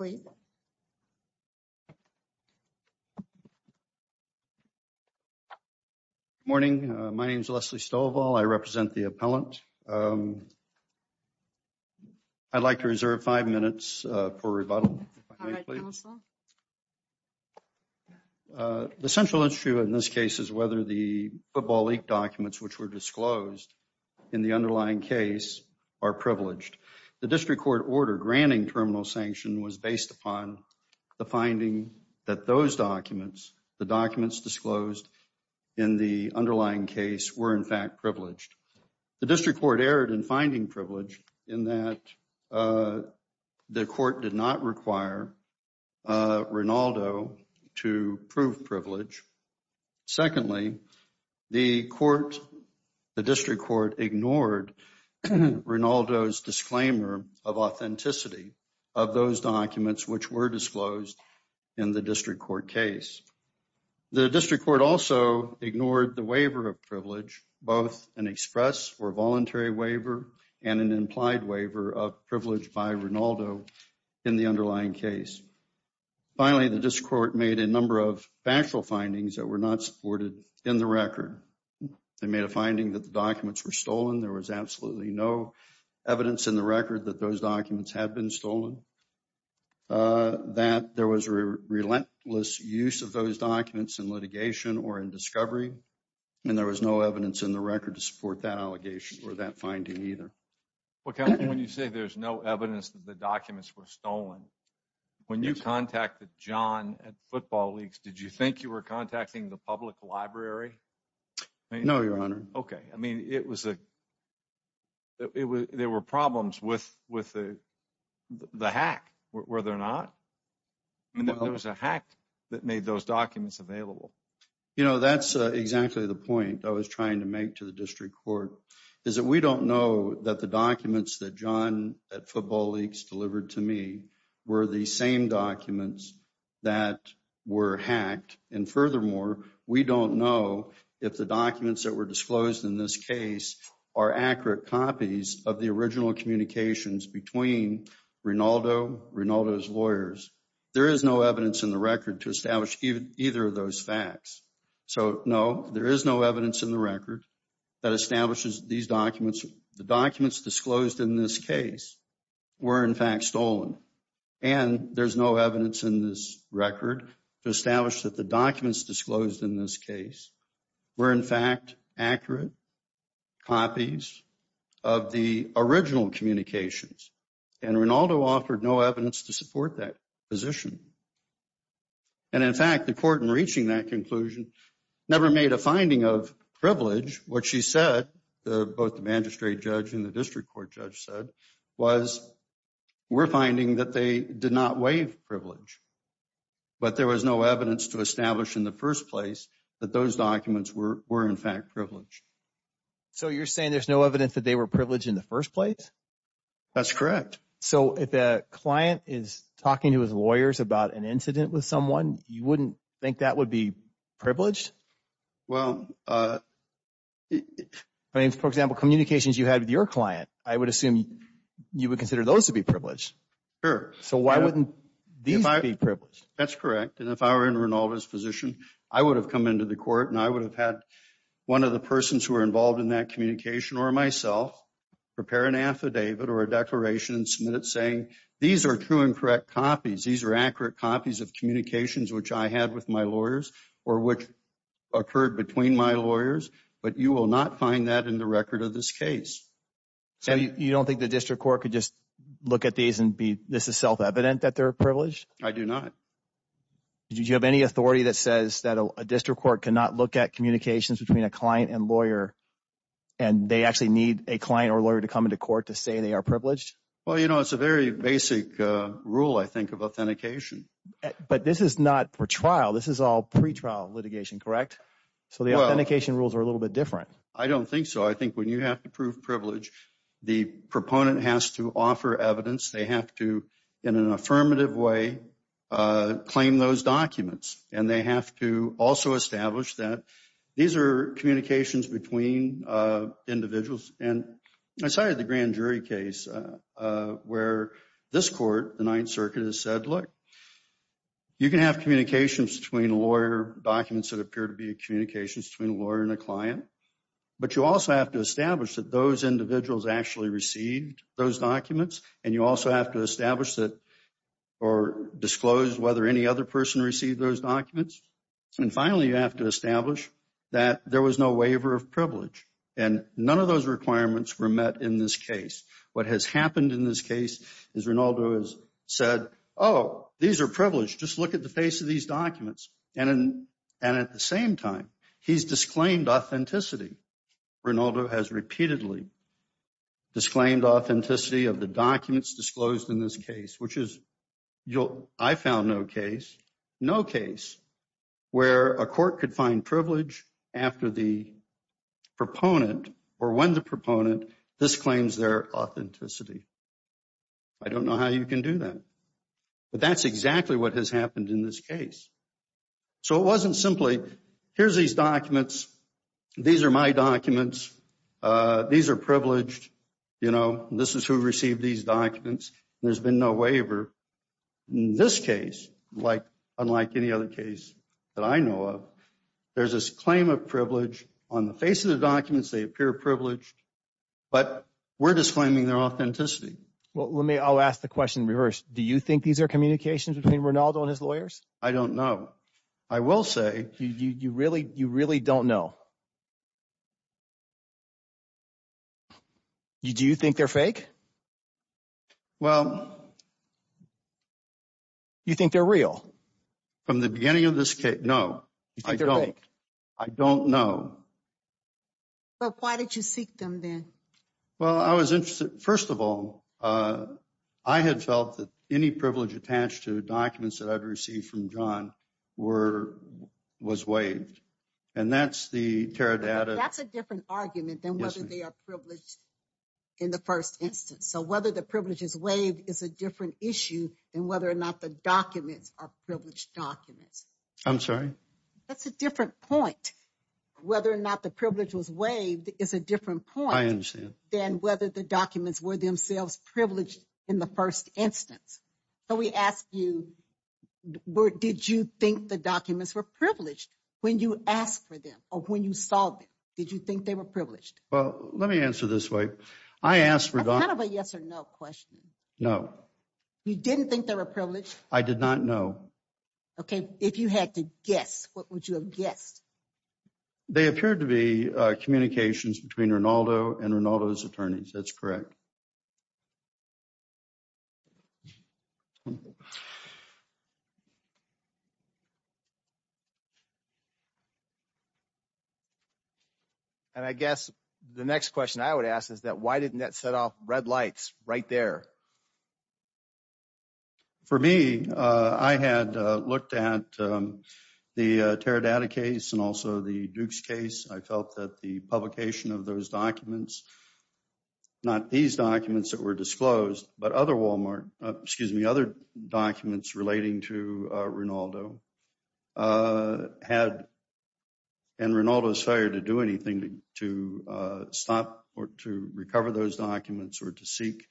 Good morning. My name is Leslie Stovall. I represent the appellant. I'd like to reserve five minutes for rebuttal. The central issue in this case is whether the Football League documents which were disclosed in the underlying case are privileged. The district court order granting terminal sanction was based upon the finding that those documents, the documents disclosed in the underlying case, were in fact privileged. The district court erred in finding privilege in that the court did not require Ronaldo to prove privilege. Secondly, the court, the district court ignored Ronaldo's disclaimer of authenticity of those documents which were disclosed in the district court case. The district court also ignored the waiver of privilege, both an express or voluntary waiver and an implied waiver of privilege by Ronaldo in the underlying case. Finally, the district court made a number of factual findings that were not supported in the record. They made a finding that the documents were stolen. There was absolutely no evidence in the record that those documents had been stolen, that there was a relentless use of those documents in litigation or in discovery, and there was no evidence in the record to support that allegation or that finding either. When you say there's no evidence that the documents were stolen, when you contacted John at Football Leagues, did you think you were contacting the public library? No, Your Honor. Okay. I mean, there were problems with the hack, were there not? There was a hack that made those documents available. You know, that's exactly the point I was trying to make to the district court, is that we don't know that the documents that John at Football Leagues delivered to me were the same documents that were hacked. And furthermore, we don't know if the documents that were disclosed in this case are accurate copies of the original communications between Ronaldo, Ronaldo's lawyers. There is no evidence in the record to establish either of those facts. So, no, there is no evidence in the record that establishes these documents. The documents disclosed in this case were, in fact, stolen. And there's no evidence in this record to establish that the documents disclosed in this case were, in fact, accurate copies of the original communications. And Ronaldo offered no evidence to support that position. And in fact, the court in reaching that conclusion never made a finding of privilege. What she said, both the magistrate judge and district court judge said, was, we're finding that they did not waive privilege. But there was no evidence to establish in the first place that those documents were, in fact, privileged. So, you're saying there's no evidence that they were privileged in the first place? That's correct. So, if a client is talking to his lawyers about an incident with someone, you wouldn't think that would be privileged? Well, for example, communications you had with your client, I would assume you would consider those to be privileged. Sure. So, why wouldn't these be privileged? That's correct. And if I were in Ronaldo's position, I would have come into the court and I would have had one of the persons who were involved in that communication or myself prepare an affidavit or a declaration and submit it saying, these are true and correct copies. These are accurate copies of communications which I had with my lawyers or which occurred between my lawyers. But you will not find that in the record of this case. So, you don't think the district court could just look at these and be, this is self-evident that they're privileged? I do not. Do you have any authority that says that a district court cannot look at communications between a client and lawyer and they actually need a client or lawyer to come into court to say they are privileged? Well, you know, it's a very basic rule, I think, of authentication. But this is not for trial. This is all pretrial litigation, correct? So, the authentication rules are a little bit different. I don't think so. I think when you have to prove privilege, the proponent has to offer evidence. They have to, in an affirmative way, claim those documents. And they have to also establish that these are communications between individuals. And I cited the Grand Circuit has said, look, you can have communications between a lawyer, documents that appear to be communications between a lawyer and a client. But you also have to establish that those individuals actually received those documents. And you also have to establish that or disclose whether any other person received those documents. And finally, you have to establish that there was no waiver of privilege. And none of those requirements were met in this case. What has happened in this case is Rinaldo has said, oh, these are privileged. Just look at the face of these documents. And at the same time, he's disclaimed authenticity. Rinaldo has repeatedly disclaimed authenticity of the documents disclosed in this case, which is, I found no case, no case where a court could find privilege after the proponent or their authenticity. I don't know how you can do that. But that's exactly what has happened in this case. So it wasn't simply, here's these documents. These are my documents. These are privileged. This is who received these documents. There's been no waiver. In this case, unlike any other case that I know of, there's this claim of privilege. On the face of the documents, they appear privileged, but we're disclaiming their authenticity. Well, let me, I'll ask the question in reverse. Do you think these are communications between Rinaldo and his lawyers? I don't know. I will say you really, you really don't know. Do you think they're fake? Well, you think they're real? From the point of view of Rinaldo. Well, why did you seek them then? Well, I was interested, first of all, I had felt that any privilege attached to documents that I've received from John were, was waived. And that's the Teradata. That's a different argument than whether they are privileged in the first instance. So whether the privilege is waived is a different issue than whether or not the documents are privileged documents. I'm sorry? That's a different point. Whether or not the privilege was waived is a different point. I understand. Than whether the documents were themselves privileged in the first instance. So we ask you, did you think the documents were privileged when you asked for them or when you saw them? Did you think they were privileged? Well, let me answer this way. I asked for... That's kind of a yes or no question. No. You didn't think they were privileged? I did not know. Okay. If you had to guess, what would you have guessed? They appeared to be communications between Rinaldo and Rinaldo's attorneys. That's correct. And I guess the next question I would ask is that why didn't that set off red lights right there? For me, I had looked at the Teradata case and also the Dukes case. I felt that the publication of those documents, not these documents that were disclosed, but other Walmart, excuse me, other documents relating to Rinaldo, had... And Rinaldo's failure to do anything to stop or to recover those documents or to seek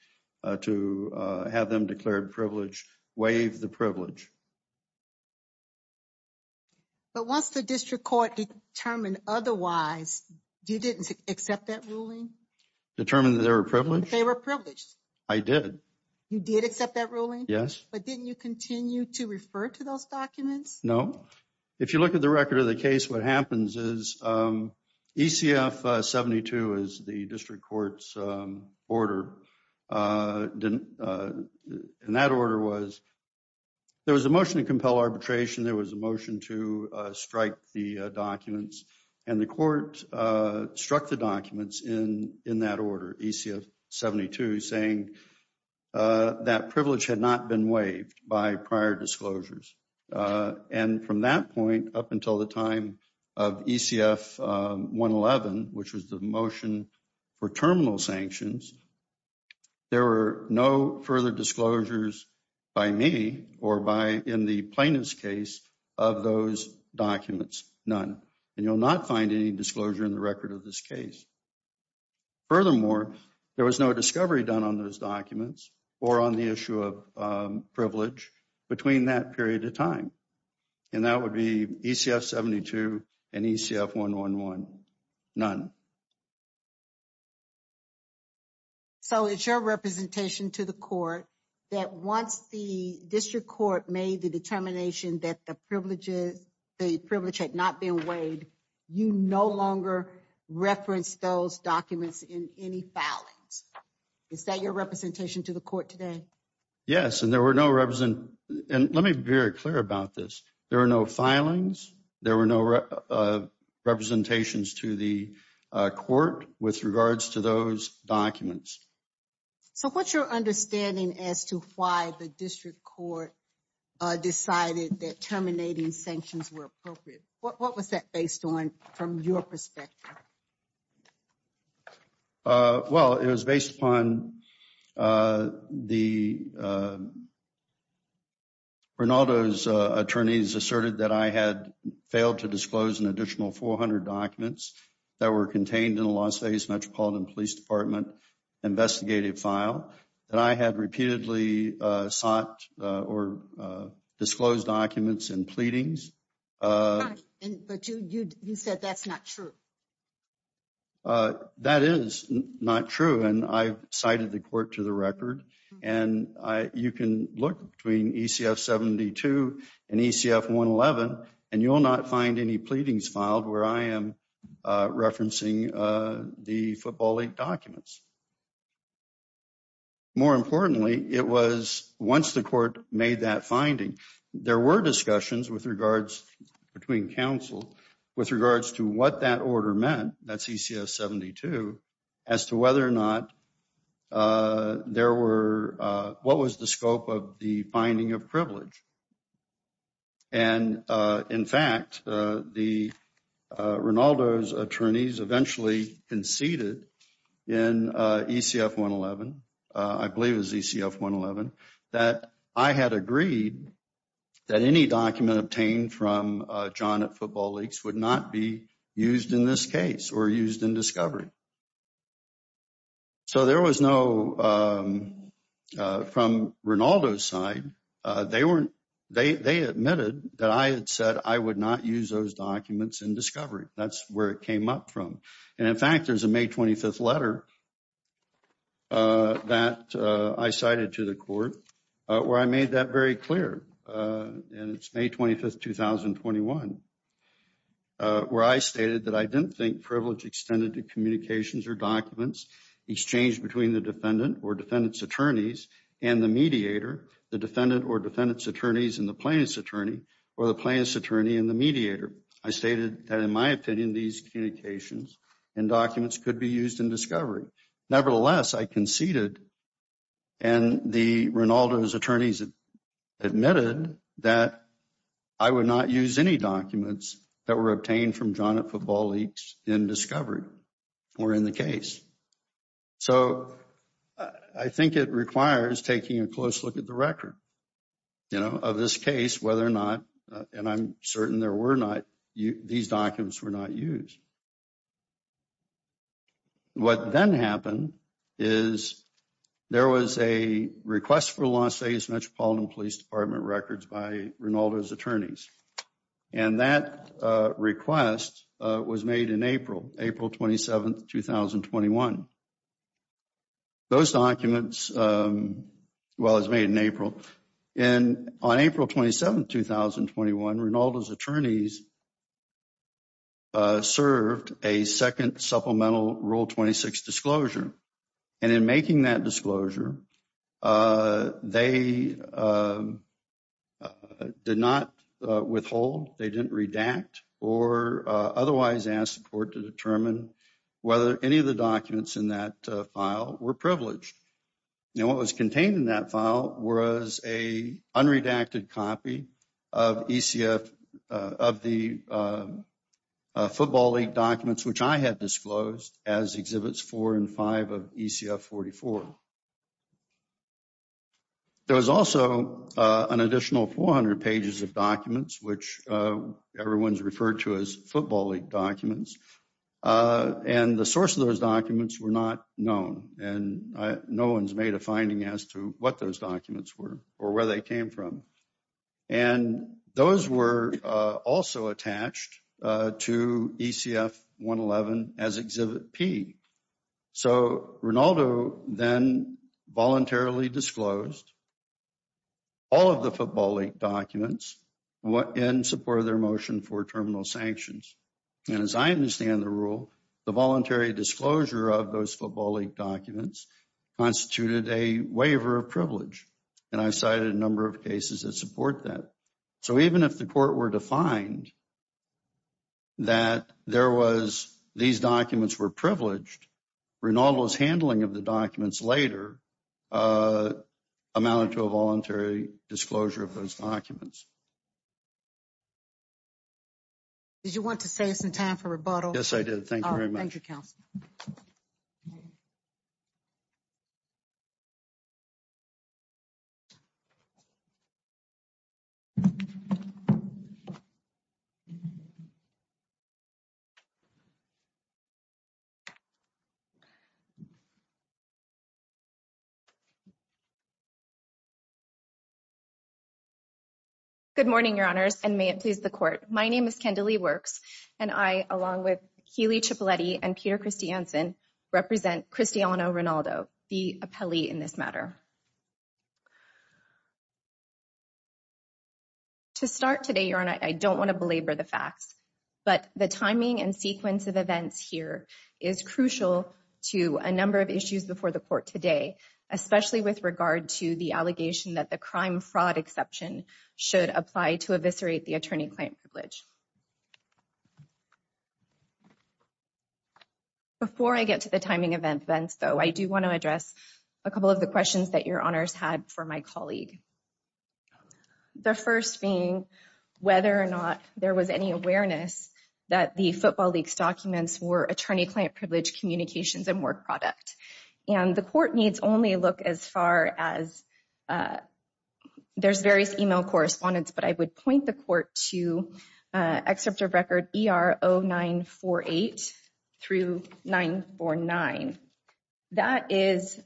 to have them declared privileged waived the privilege. But once the district court determined otherwise, you didn't accept that ruling? Determined that they were privileged? They were privileged. I did. You did accept that ruling? Yes. But didn't you continue to refer to those documents? No. If you look at the record of the case, what happens is ECF-72 is the district court's order. And that order was... There was a motion to compel arbitration. There was a motion to strike the documents. And the court struck the documents in that order, ECF-72, saying that privilege had not been waived by prior disclosures. And from that point up until the time of ECF-111, which was the motion for terminal sanctions, there were no further disclosures by me or by, in the plaintiff's case, of those documents. None. And you'll not find any disclosure in the documents or on the issue of privilege between that period of time. And that would be ECF-72 and ECF-111. None. So it's your representation to the court that once the district court made the determination that the privilege had not been waived, you no longer reference those documents in any filings. Is that your representation to the court today? Yes. And there were no represent... And let me be very clear about this. There are no filings. There were no representations to the court with regards to those documents. So what's your understanding as to why the district court decided that terminating sanctions were appropriate? What was that based on from your perspective? Well, it was based upon the... Rinaldo's attorneys asserted that I had failed to disclose an additional 400 documents that were contained in the Las Vegas Metropolitan Police Department investigative file, that I had repeatedly sought or disclosed documents in pleadings. But you said that's not true. That is not true. And I've cited the court to the record. And you can look between ECF-72 and ECF-111 and you will not find any pleadings filed where I am referencing the Football League documents. More importantly, it was once the court made that finding, there were discussions with regards between counsel with regards to what that order meant, that's ECF-72, as to whether or not there were... What was the scope of the finding of privilege? And in fact, Rinaldo's attorneys eventually conceded in ECF-111, I believe it was ECF-111, that I had agreed that any document obtained from John at Football Leagues would not be used in this case or used in discovery. So there was no... From Rinaldo's side, they admitted that I had said I would not use those documents in discovery. That's where it made that very clear. And it's May 25th, 2021, where I stated that I didn't think privilege extended to communications or documents exchanged between the defendant or defendant's attorneys and the mediator, the defendant or defendant's attorneys and the plaintiff's attorney, or the plaintiff's attorney and the mediator. I stated that in my opinion, these communications and documents could be used in discovery. Nevertheless, I conceded and Rinaldo's attorneys admitted that I would not use any documents that were obtained from John at Football Leagues in discovery or in the case. So I think it requires taking a close look at the record of this case, whether or not, and I'm certain there were not... These documents were not used. What then happened is there was a request for the Los Angeles Metropolitan Police Department records by Rinaldo's attorneys. And that request was made in April, April 27th, 2021. Those documents... Well, it was made in April. And on April 27th, 2021, Rinaldo's attorneys served a second supplemental Rule 26 disclosure. And in making that disclosure, they did not withhold, they didn't redact or otherwise ask the court to determine whether any of the documents in that file were privileged. Now, what was contained in that file was a unredacted copy of ECF, of the Football League documents, which I had disclosed as Exhibits 4 and 5 of ECF 44. There was also an additional 400 pages of documents, which everyone's referred to as Football League documents. And the source of those documents were not known. And no one's finding as to what those documents were or where they came from. And those were also attached to ECF 111 as Exhibit P. So, Rinaldo then voluntarily disclosed all of the Football League documents in support of their motion for terminal sanctions. And as I understand the rule, the voluntary disclosure of those Football League documents constituted a waiver of privilege. And I cited a number of cases that support that. So, even if the court were to find that there was, these documents were privileged, Rinaldo's handling of the documents later amounted to a voluntary disclosure of those documents. Did you want to say it's in time for rebuttal? Yes, I did. Thank you very much. Thank you, counsel. Good morning, Your Honors, and may it please the court. My name is Kendalee Works, and I, along with Healey Cipolletti and Peter Christiansen, represent Cristiano Rinaldo, the appellee in this matter. To start today, Your Honor, I don't want to belabor the facts, but the timing and sequence of events here is crucial to a number of issues before the court today, especially with regard to the allegation that the crime fraud exception should apply to eviscerate the attorney-client privilege. Before I get to the timing of events, though, I do want to address a couple of the questions that Your Honors had for my colleague. The first being whether or not there was any awareness that the Football League's documents were attorney-client privilege communications and work product. And the court needs only look as far as there's various email correspondence, but I would point the court to Excerpt of Record ER0948-949. That is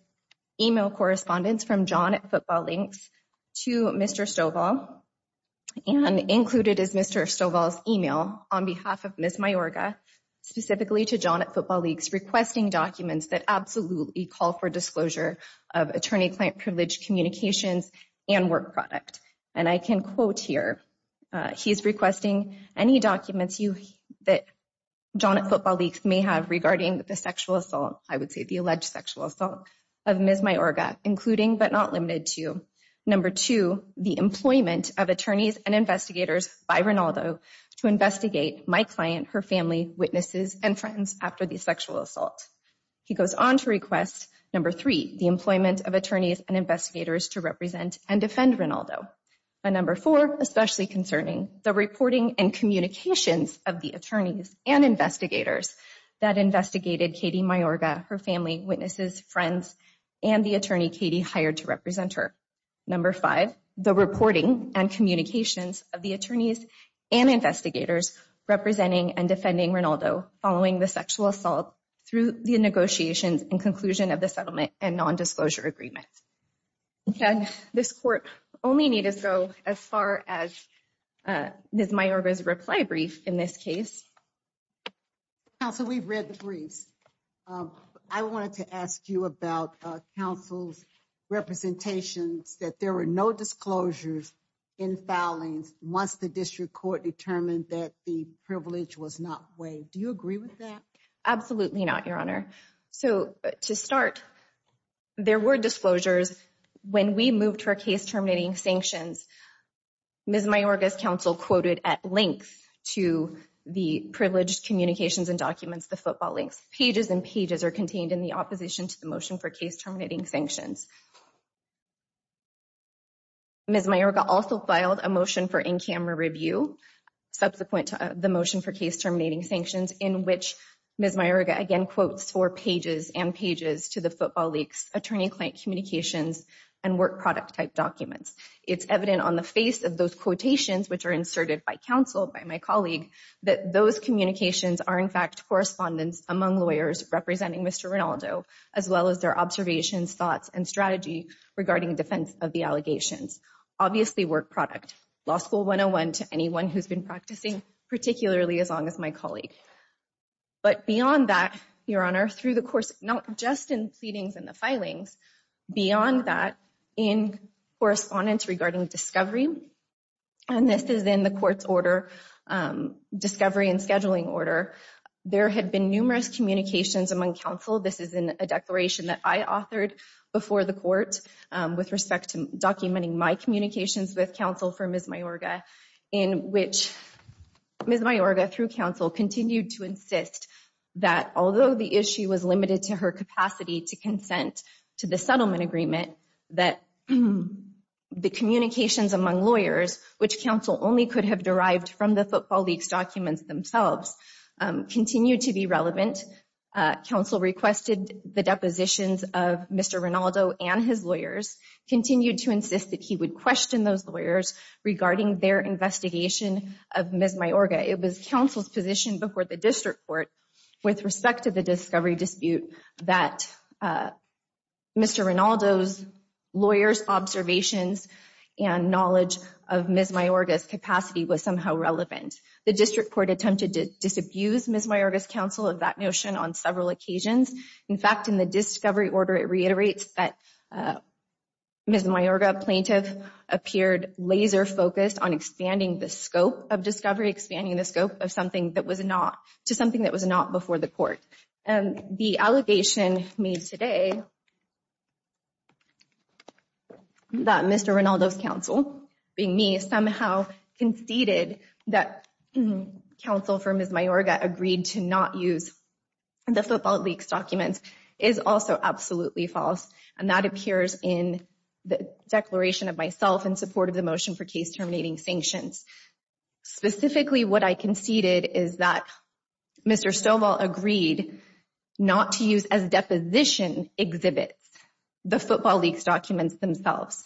email correspondence from John at Football League to Mr. Stovall, and included is Mr. Stovall's email on behalf of that absolutely call for disclosure of attorney-client privilege communications and work product. And I can quote here, he's requesting any documents that John at Football League may have regarding the sexual assault, I would say the alleged sexual assault of Ms. Mayorga, including but not limited to, number two, the employment of attorneys and investigators by Rinaldo to investigate my client, her family, witnesses, and friends after the sexual assault. He goes on to request number three, the employment of attorneys and investigators to represent and defend Rinaldo. And number four, especially concerning the reporting and communications of the attorneys and investigators that investigated Katie Mayorga, her family, witnesses, friends, and the attorney Katie hired to represent her. Number five, the reporting and communications of the attorneys and investigators representing and defending Rinaldo following the sexual assault through the negotiations and conclusion of the settlement and non-disclosure agreement. And this court only need to go as far as Ms. Mayorga's reply brief in this case. Counsel, we've read the briefs. I wanted to ask you about counsel's representations that there were no disclosures in filings once the district court determined that the privilege was not waived. Do you agree with that? Absolutely not, Your Honor. So to start, there were disclosures when we moved her case terminating sanctions. Ms. Mayorga's counsel quoted at length to the privileged communications and documents, the football links. Pages and pages are contained in the opposition to the motion for case terminating sanctions. Ms. Mayorga also filed a motion for in-camera review subsequent to the motion for case terminating sanctions in which Ms. Mayorga again quotes four pages and pages to the football leaks, attorney-client communications, and work product type documents. It's evident on the face of those quotations which are inserted by counsel, by my colleague, that those communications are in fact correspondence among lawyers representing Mr. Rinaldo as well as their observations, thoughts, and strategy regarding defense of the allegations. Obviously work product, law school 101 to anyone who's been practicing particularly as long as my colleague. But beyond that, Your Honor, through the course not just in pleadings and the filings, beyond that in correspondence regarding discovery, and this is in the court's order, discovery and scheduling order, there had been numerous communications among counsel. This is a declaration that I authored before the court with respect to documenting my communications with counsel for Ms. Mayorga in which Ms. Mayorga, through counsel, continued to insist that although the issue was limited to her capacity to consent to the settlement agreement, that the communications among lawyers, which counsel only could have derived from the football documents themselves, continued to be relevant. Counsel requested the depositions of Mr. Rinaldo and his lawyers, continued to insist that he would question those lawyers regarding their investigation of Ms. Mayorga. It was counsel's position before the district court with respect to the discovery dispute that Mr. Rinaldo's lawyer's observations and knowledge of Ms. Mayorga were somehow relevant. The district court attempted to disabuse Ms. Mayorga's counsel of that notion on several occasions. In fact, in the discovery order, it reiterates that Ms. Mayorga, plaintiff, appeared laser focused on expanding the scope of discovery, expanding the scope to something that was not before the court. The allegation made today that Mr. Rinaldo's counsel, being me, somehow conceded that counsel for Ms. Mayorga agreed to not use the football leaks documents is also absolutely false, and that appears in the declaration of myself in support of the motion for case terminating sanctions. Specifically, what I conceded is that Mr. Stovall agreed not to use as deposition exhibits the football leaks documents themselves.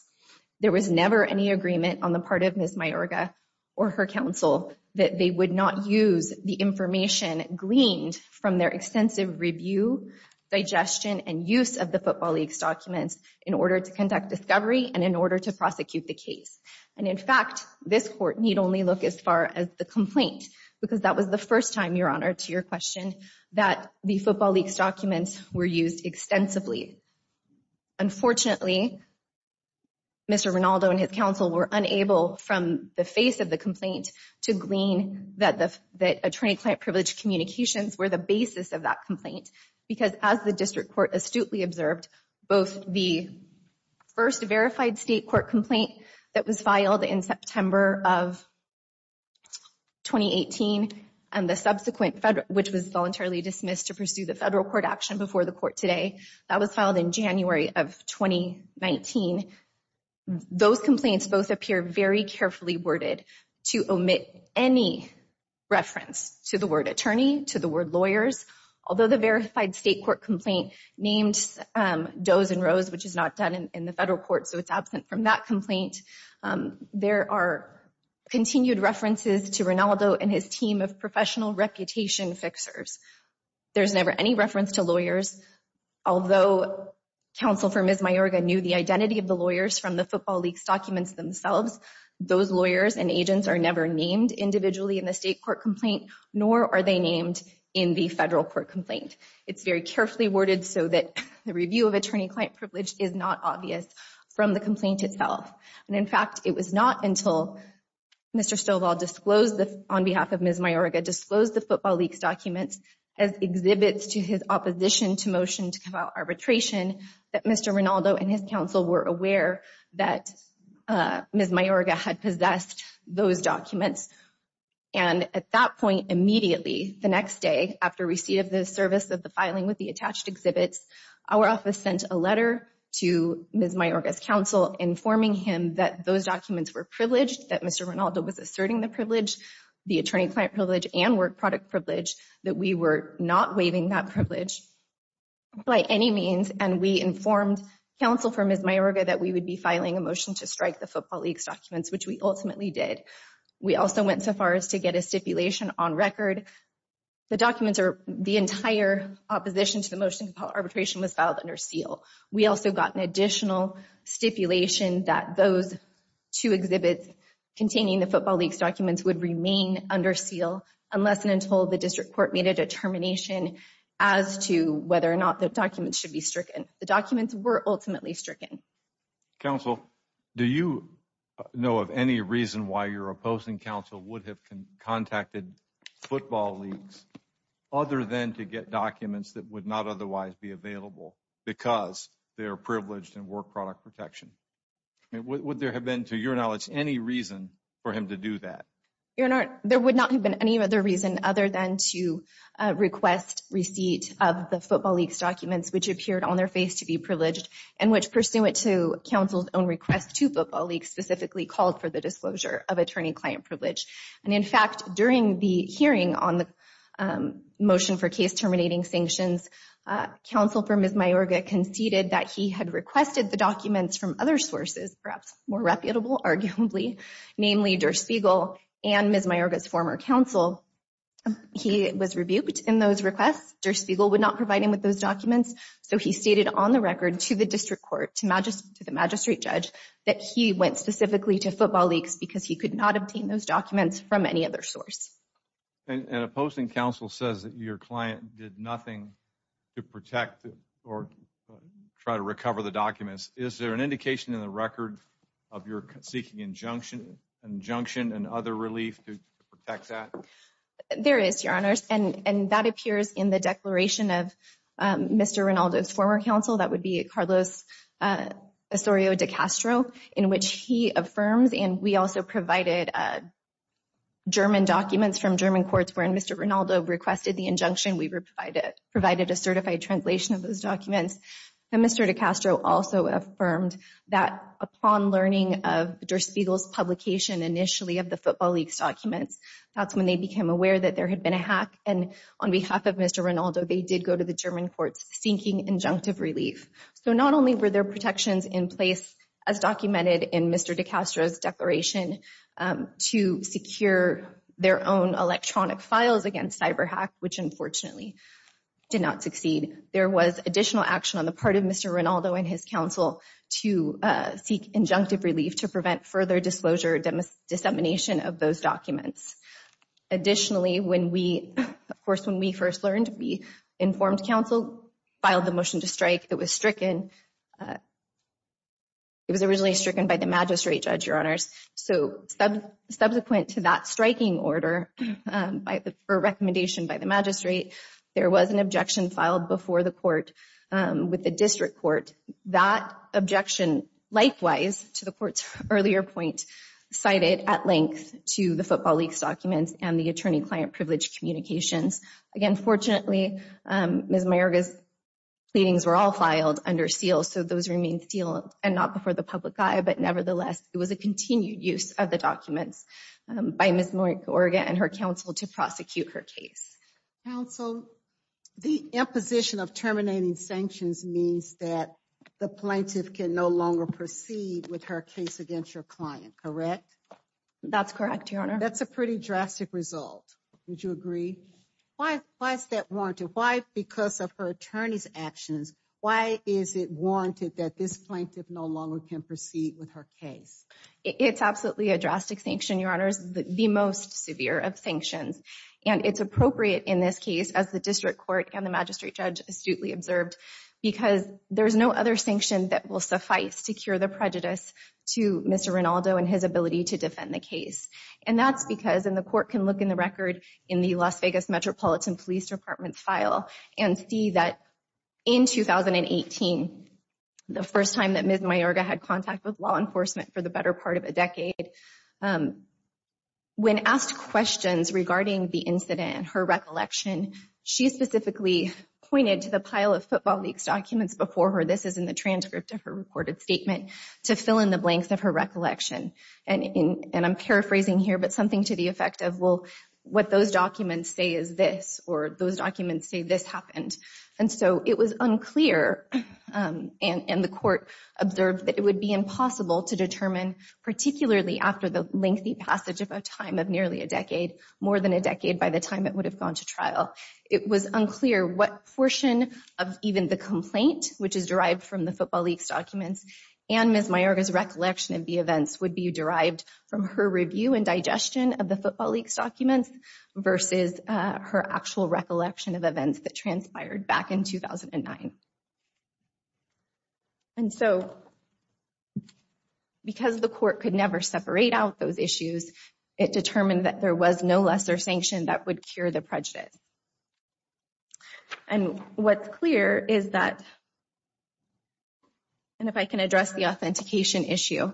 There was never any agreement on the part of Ms. Mayorga or her counsel that they would not use the information gleaned from their extensive review, digestion, and use of the football leaks documents in order to conduct discovery and in order to only look as far as the complaint, because that was the first time, Your Honor, to your question, that the football leaks documents were used extensively. Unfortunately, Mr. Rinaldo and his counsel were unable from the face of the complaint to glean that attorney-client privilege communications were the basis of that complaint, because as the district court astutely observed, both the first verified state court complaint that was filed in September of 2018 and the subsequent federal, which was voluntarily dismissed to pursue the federal court action before the court today, that was filed in January of 2019. Those complaints both appear very carefully worded to omit any reference to the word attorney, to the word lawyers, although the verified state court complaint named Doe's and Rose, which is not done in the federal court, so it's absent from that complaint. There are continued references to Rinaldo and his team of professional reputation fixers. There's never any reference to lawyers, although counsel for Ms. Mayorga knew the identity of the lawyers from the football leaks documents themselves. Those lawyers and agents are never named individually in the state court complaint, nor are they named in the federal court complaint. It's very carefully worded, so that the review of attorney-client privilege is not obvious from the complaint itself. And in fact, it was not until Mr. Stovall disclosed, on behalf of Ms. Mayorga, disclosed the football leaks documents as exhibits to his opposition to motion to come out arbitration, that Mr. Rinaldo and his counsel were aware that Ms. Mayorga had possessed those documents. And at that point, immediately, the next day, after receipt of the service of the filing with the attached exhibits, our office sent a letter to Ms. Mayorga's counsel informing him that those documents were privileged, that Mr. Rinaldo was asserting the privilege, the attorney-client privilege and work product privilege, that we were not waiving that privilege by any means, and we informed counsel for Ms. Mayorga that we would be filing a motion to strike the football leaks documents, which we ultimately did. We also went so far as to get a stipulation on record. The documents are the entire opposition to the motion to arbitration was filed under seal. We also got an additional stipulation that those two exhibits containing the football leaks documents would remain under seal, unless and until the district court made a determination as to whether or not the documents should be stricken. The documents were ultimately stricken. Counsel, do you know of any reason why your opposing counsel would have contacted football leaks other than to get documents that would not otherwise be available because they're privileged in work product protection? Would there have been, to your knowledge, any reason for him to do that? Your Honor, there would not have been any other reason other than to request receipt of the counsel's own request to football leaks, specifically called for the disclosure of attorney-client privilege. And in fact, during the hearing on the motion for case terminating sanctions, counsel for Ms. Mayorga conceded that he had requested the documents from other sources, perhaps more reputable arguably, namely Der Spiegel and Ms. Mayorga's former counsel. He was rebuked in those requests. Der Spiegel would not provide him with those documents, so he stated on the record to the district court, to the magistrate judge, that he went specifically to football leaks because he could not obtain those documents from any other source. And opposing counsel says that your client did nothing to protect or try to recover the documents. Is there an indication in the record of your seeking injunction and other relief to Mr. Rinaldo's former counsel, that would be Carlos Osorio de Castro, in which he affirms, and we also provided German documents from German courts where Mr. Rinaldo requested the injunction, we provided a certified translation of those documents. And Mr. de Castro also affirmed that upon learning of Der Spiegel's publication initially of the football leaks documents, that's when they became aware that there had been a hack. And on behalf of Mr. Rinaldo, they did go to the German courts seeking injunctive relief. So not only were there protections in place as documented in Mr. de Castro's declaration to secure their own electronic files against cyber hack, which unfortunately did not succeed, there was additional action on the part of Mr. Rinaldo and his counsel to seek injunctive relief to prevent further disclosure, dissemination of those documents. Additionally, when we, of course, we first learned, we informed counsel, filed the motion to strike that was stricken. It was originally stricken by the magistrate, Judge, your honors. So subsequent to that striking order, or recommendation by the magistrate, there was an objection filed before the court with the district court. That objection, likewise, to the court's earlier point, cited at length to the football leaks documents and the attorney-client privilege communications documents. Again, fortunately, Ms. Mayorga's pleadings were all filed under seal. So those remain sealed and not before the public eye, but nevertheless, it was a continued use of the documents by Ms. Mayorga and her counsel to prosecute her case. Counsel, the imposition of terminating sanctions means that the plaintiff can no longer proceed with her case against your client, correct? That's correct, your honor. That's a pretty drastic result. Would you agree? Why is that warranted? Why, because of her attorney's actions, why is it warranted that this plaintiff no longer can proceed with her case? It's absolutely a drastic sanction, your honors, the most severe of sanctions. And it's appropriate in this case, as the district court and the magistrate judge astutely observed, because there's no other sanction that will suffice to cure the prejudice to Mr. Rinaldo and his ability to defend the case. And that's because, and the court can look in the record in the Las Vegas Metropolitan Police Department's file and see that in 2018, the first time that Ms. Mayorga had contact with law enforcement for the better part of a decade, when asked questions regarding the incident and her recollection, she specifically pointed to the pile of Football League's documents before her, this is in the transcript of her reported statement, to fill in the blanks of her and I'm paraphrasing here, but something to the effect of, well, what those documents say is this, or those documents say this happened. And so it was unclear, and the court observed that it would be impossible to determine, particularly after the lengthy passage of a time of nearly a decade, more than a decade by the time it would have gone to trial. It was unclear what portion of even the complaint, which is derived from the Football League's documents, and Ms. Mayorga's recollection of the events would be derived from her review and digestion of the Football League's documents versus her actual recollection of events that transpired back in 2009. And so, because the court could never separate out those issues, it determined that there was no lesser sanction that would cure the prejudice. And what's clear is that, and if I can address the authentication issue,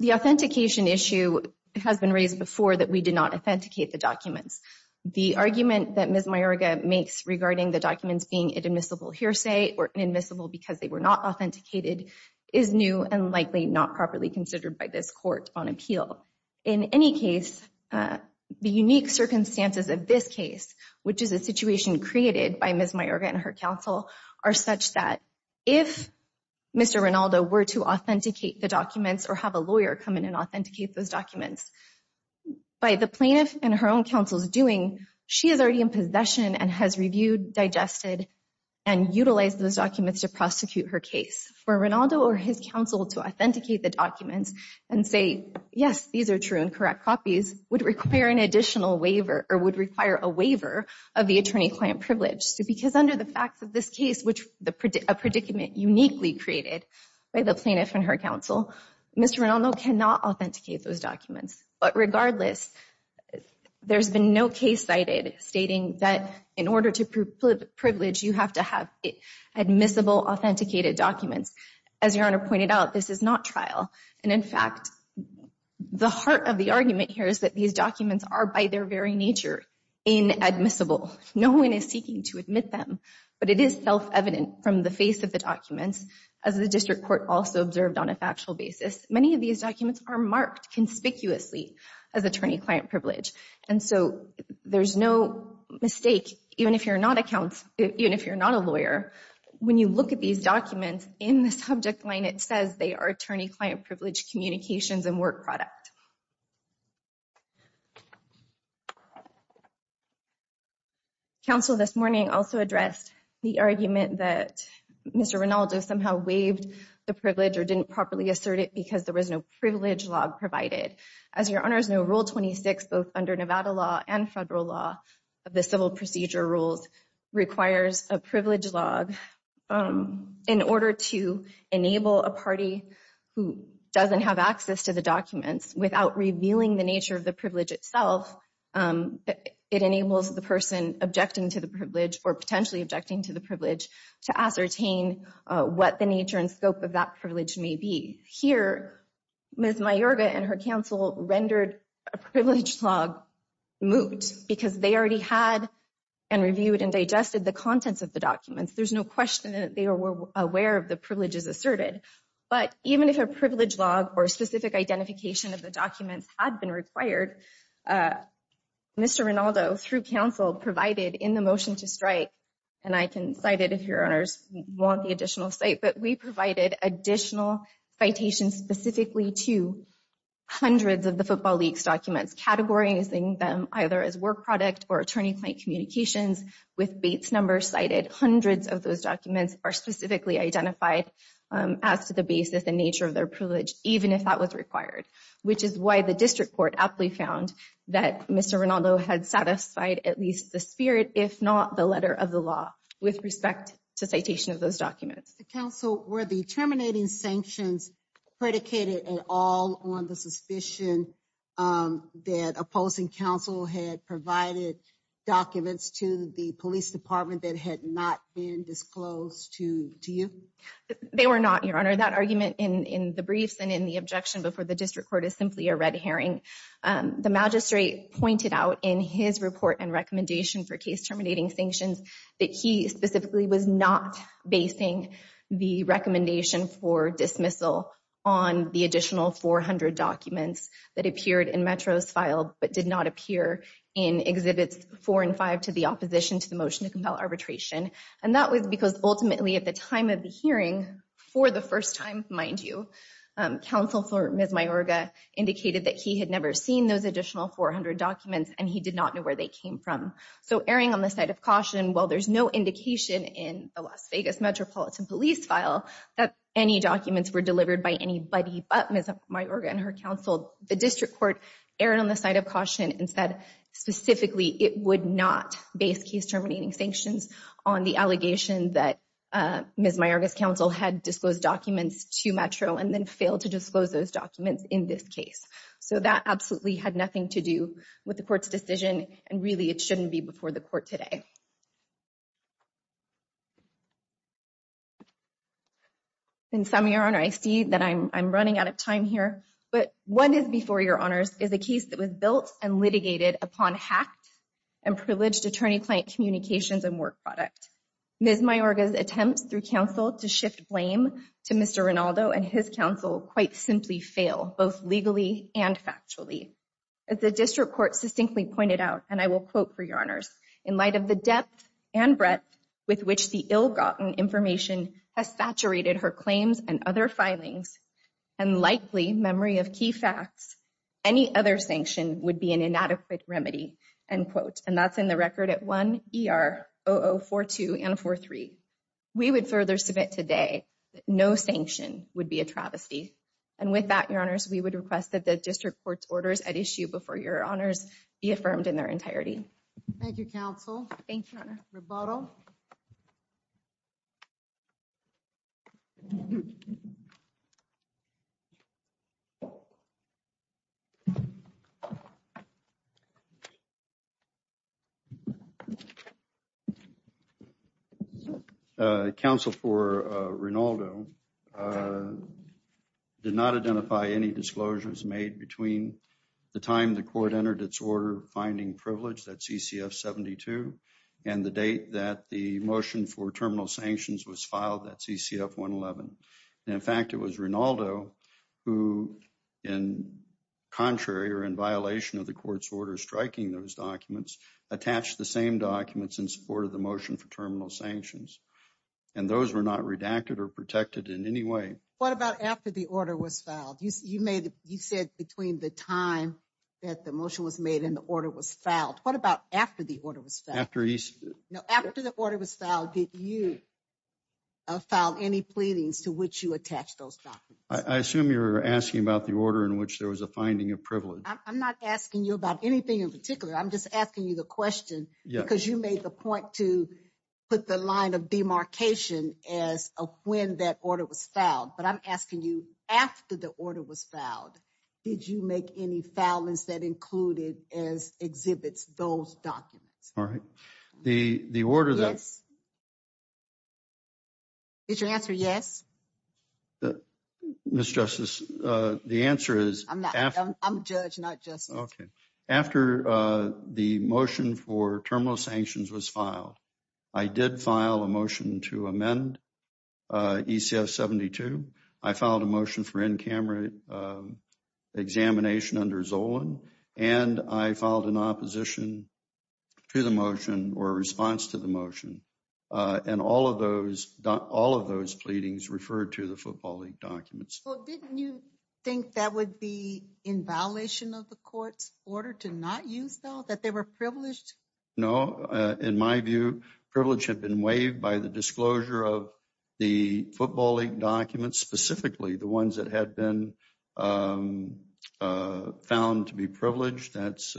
the authentication issue has been raised before that we did not authenticate the documents. The argument that Ms. Mayorga makes regarding the documents being admissible hearsay or admissible because they were not authenticated is new and likely not properly considered by this case. The circumstances of this case, which is a situation created by Ms. Mayorga and her counsel, are such that if Mr. Rinaldo were to authenticate the documents or have a lawyer come in and authenticate those documents, by the plaintiff and her own counsel's doing, she is already in possession and has reviewed, digested, and utilized those documents to prosecute her case. For Rinaldo or his counsel to authenticate the documents and say, yes, these are true and correct copies, would require an additional waiver or would require a waiver of the attorney-client privilege. Because under the facts of this case, which a predicament uniquely created by the plaintiff and her counsel, Mr. Rinaldo cannot authenticate those documents. But regardless, there's been no case cited stating that in order to prove privilege, you have to have admissible, authenticated documents. As Your Honor pointed out, this is not trial. And in fact, the heart of the argument here is that these documents are, by their very nature, inadmissible. No one is seeking to admit them, but it is self-evident from the face of the documents, as the district court also observed on a factual basis. Many of these documents are marked conspicuously as attorney- client privilege. And so there's no mistake, even if you're not a lawyer, when you look at these documents, in the subject line, it says they are attorney-client privilege communications and work product. Council this morning also addressed the argument that Mr. Rinaldo somehow waived the privilege or didn't properly assert it because there was no privilege log provided. As Your Honors know, Rule 26, both under Nevada law and federal law of the civil procedure rules, requires a privilege log in order to enable a party who doesn't have access to the documents without revealing the nature of the privilege itself. It enables the person objecting to the privilege or potentially objecting to the privilege to ascertain what the nature and scope of that privilege may be. Here, Ms. Mayorga and her counsel rendered a privilege log moot because they already had and reviewed and digested the contents of the documents. There's no question that they were aware of the privileges asserted. But even if a privilege log or specific identification of the documents had been required, Mr. Rinaldo, through counsel, provided in the motion to strike, and I can cite it if Your Honors want the additional cite, but we provided additional citations specifically to hundreds of the Football League's documents, categorizing them either as communications with Bates numbers cited. Hundreds of those documents are specifically identified as to the basis and nature of their privilege, even if that was required, which is why the district court aptly found that Mr. Rinaldo had satisfied at least the spirit, if not the letter of the law, with respect to citation of those documents. Counsel, were the terminating sanctions predicated at all on the suspicion that opposing counsel had provided documents to the police department that had not been disclosed to you? They were not, Your Honor. That argument in the briefs and in the objection before the district court is simply a red herring. The magistrate pointed out in his report and recommendation for case terminating sanctions that he specifically was not basing the appeared in Metro's file, but did not appear in Exhibits 4 and 5 to the opposition to the motion to compel arbitration. And that was because ultimately at the time of the hearing, for the first time, mind you, counsel for Ms. Mayorga indicated that he had never seen those additional 400 documents and he did not know where they came from. So erring on the side of caution, while there's no indication in the Las Vegas Metropolitan Police file that any documents were delivered by anybody but Ms. Mayorga and her counsel, the district court erred on the side of caution and said specifically it would not base case terminating sanctions on the allegation that Ms. Mayorga's counsel had disclosed documents to Metro and then failed to disclose those documents in this case. So that absolutely had nothing to do with the court's decision and really it shouldn't be before the court today. In summary, your honor, I see that I'm running out of time here, but what is before your honors is a case that was built and litigated upon hacked and privileged attorney-client communications and work product. Ms. Mayorga's attempts through counsel to shift blame to Mr. Rinaldo and his counsel quite simply fail, both legally and factually. As the district court succinctly pointed out, and I quote for your honors, in light of the depth and breadth with which the ill-gotten information has saturated her claims and other filings and likely memory of key facts, any other sanction would be an inadequate remedy, end quote. And that's in the record at 1 ER 0042 and 43. We would further submit today that no sanction would be a travesty. And with that, your honors, we would request that the district court's orders at issue before your honors be affirmed in their entirety. Thank you, counsel. Thank you, your honor. Rebotto. Counsel for Rinaldo did not identify any disclosures made between the time the court entered its order finding privilege at CCF 72 and the date that the motion for terminal sanctions was filed at CCF 111. And in fact, it was Rinaldo who, in contrary or in violation of the court's order striking those documents, attached the same documents in support of the motion for terminal sanctions. And those were not redacted or protected in any way. What about after the order was filed? You said between the time that the motion was made and the order was filed. What about after the order was filed? After the order was filed, did you file any pleadings to which you attach those documents? I assume you're asking about the order in which there was a finding of privilege. I'm not asking you about anything in particular. I'm just asking you the question because you made the point to put the line of demarcation as of when that order was filed. But I'm asking you after the order was filed, did you make any filings that included as exhibits those documents? All right. The order that... Yes. Is your answer yes? Ms. Justice, the answer is... I'm a judge, not justice. Okay. After the motion for terminal sanctions was filed, I did file a motion to amend ECF-72. I filed a motion for in-camera examination under Zolan. And I filed an opposition to the motion or a response to the motion. And all of those pleadings referred to the Football League documents. Well, didn't you think that would be in violation of the court's order to not use those, that they were privileged? No. In my view, privilege had been waived by the disclosure of the Football League documents, specifically the ones that had been found to be privileged. That's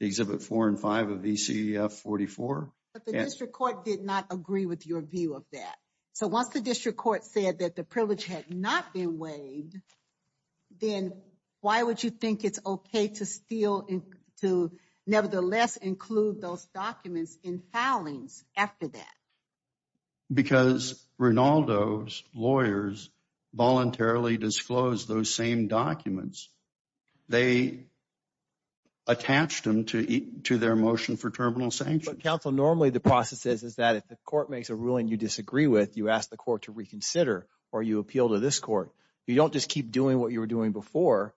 exhibit four and five of ECF-44. But the district court did not agree with your view of that. So once the district court said that the privilege had not been waived, then why would you think it's okay to nevertheless include those documents in filings after that? Because Rinaldo's lawyers voluntarily disclosed those same documents. They attached them to their motion for terminal sanctions. But counsel, normally the process is that if the court makes a ruling you disagree with, you ask the court to or you appeal to this court, you don't just keep doing what you were doing before,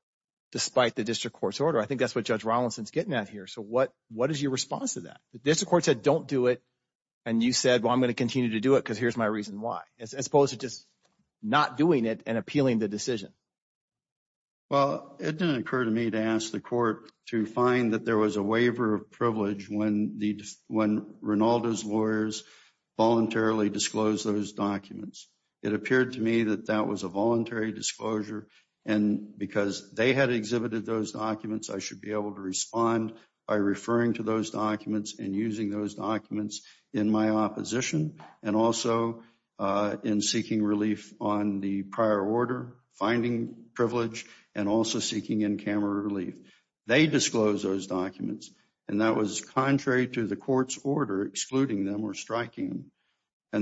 despite the district court's order. I think that's what Judge Rollinson's getting at here. So what is your response to that? The district court said, don't do it. And you said, well, I'm going to continue to do it because here's my reason why, as opposed to just not doing it and appealing the decision. Well, it didn't occur to me to ask the court to find that there was a waiver of privilege when Rinaldo's lawyers voluntarily disclosed those documents. It appeared to me that that was a voluntary disclosure and because they had exhibited those documents, I should be able to respond by referring to those documents and using those documents in my opposition and also in seeking relief on the prior order, finding privilege, and also seeking in-camera relief. They disclosed those documents and that was contrary to the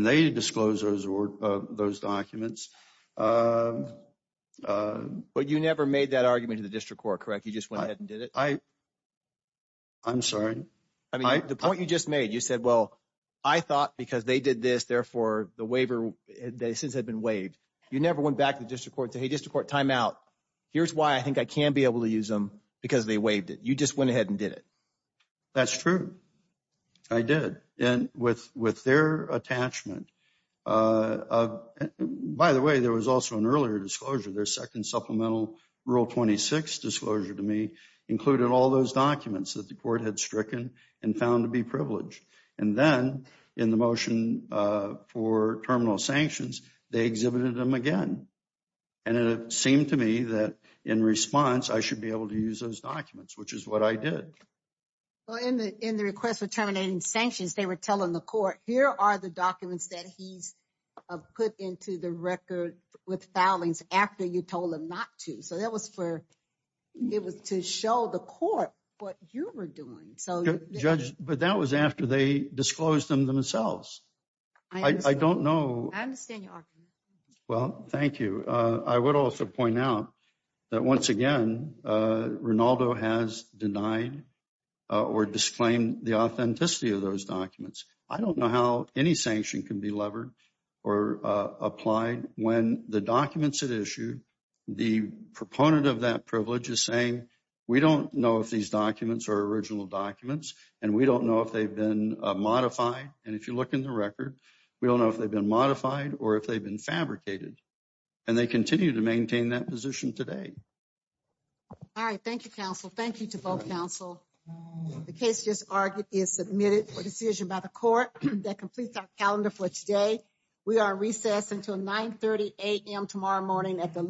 those documents. But you never made that argument to the district court, correct? You just went ahead and did it? I'm sorry. I mean, the point you just made, you said, well, I thought because they did this, therefore the waiver, they since had been waived. You never went back to the district court and said, hey, district court, time out. Here's why I think I can be able to use them because they waived it. You just went ahead and by the way, there was also an earlier disclosure. Their second supplemental rule 26 disclosure to me included all those documents that the court had stricken and found to be privileged. And then in the motion for terminal sanctions, they exhibited them again. And it seemed to me that in response, I should be able to use those documents, which is what I did. Well, in the request for terminating sanctions, they were telling the court, here are the documents that he's put into the record with foulings after you told him not to. So that was to show the court what you were doing. Judge, but that was after they disclosed them themselves. I don't know. I understand your argument. Well, thank you. I would also point out that once again, Rinaldo has denied or disclaimed the authenticity of those documents. I don't know how any sanction can be levered or applied when the documents that issue the proponent of that privilege is saying, we don't know if these documents are original documents and we don't know if they've been modified. And if you look in the record, we don't know if they've been modified or if they've been fabricated and they continue to maintain that position today. All right. Thank you, counsel. Thank you to both counsel. The case just argued is submitted for decision by the court that completes our calendar for today. We are recessed until 9.30 a.m. tomorrow morning at the lower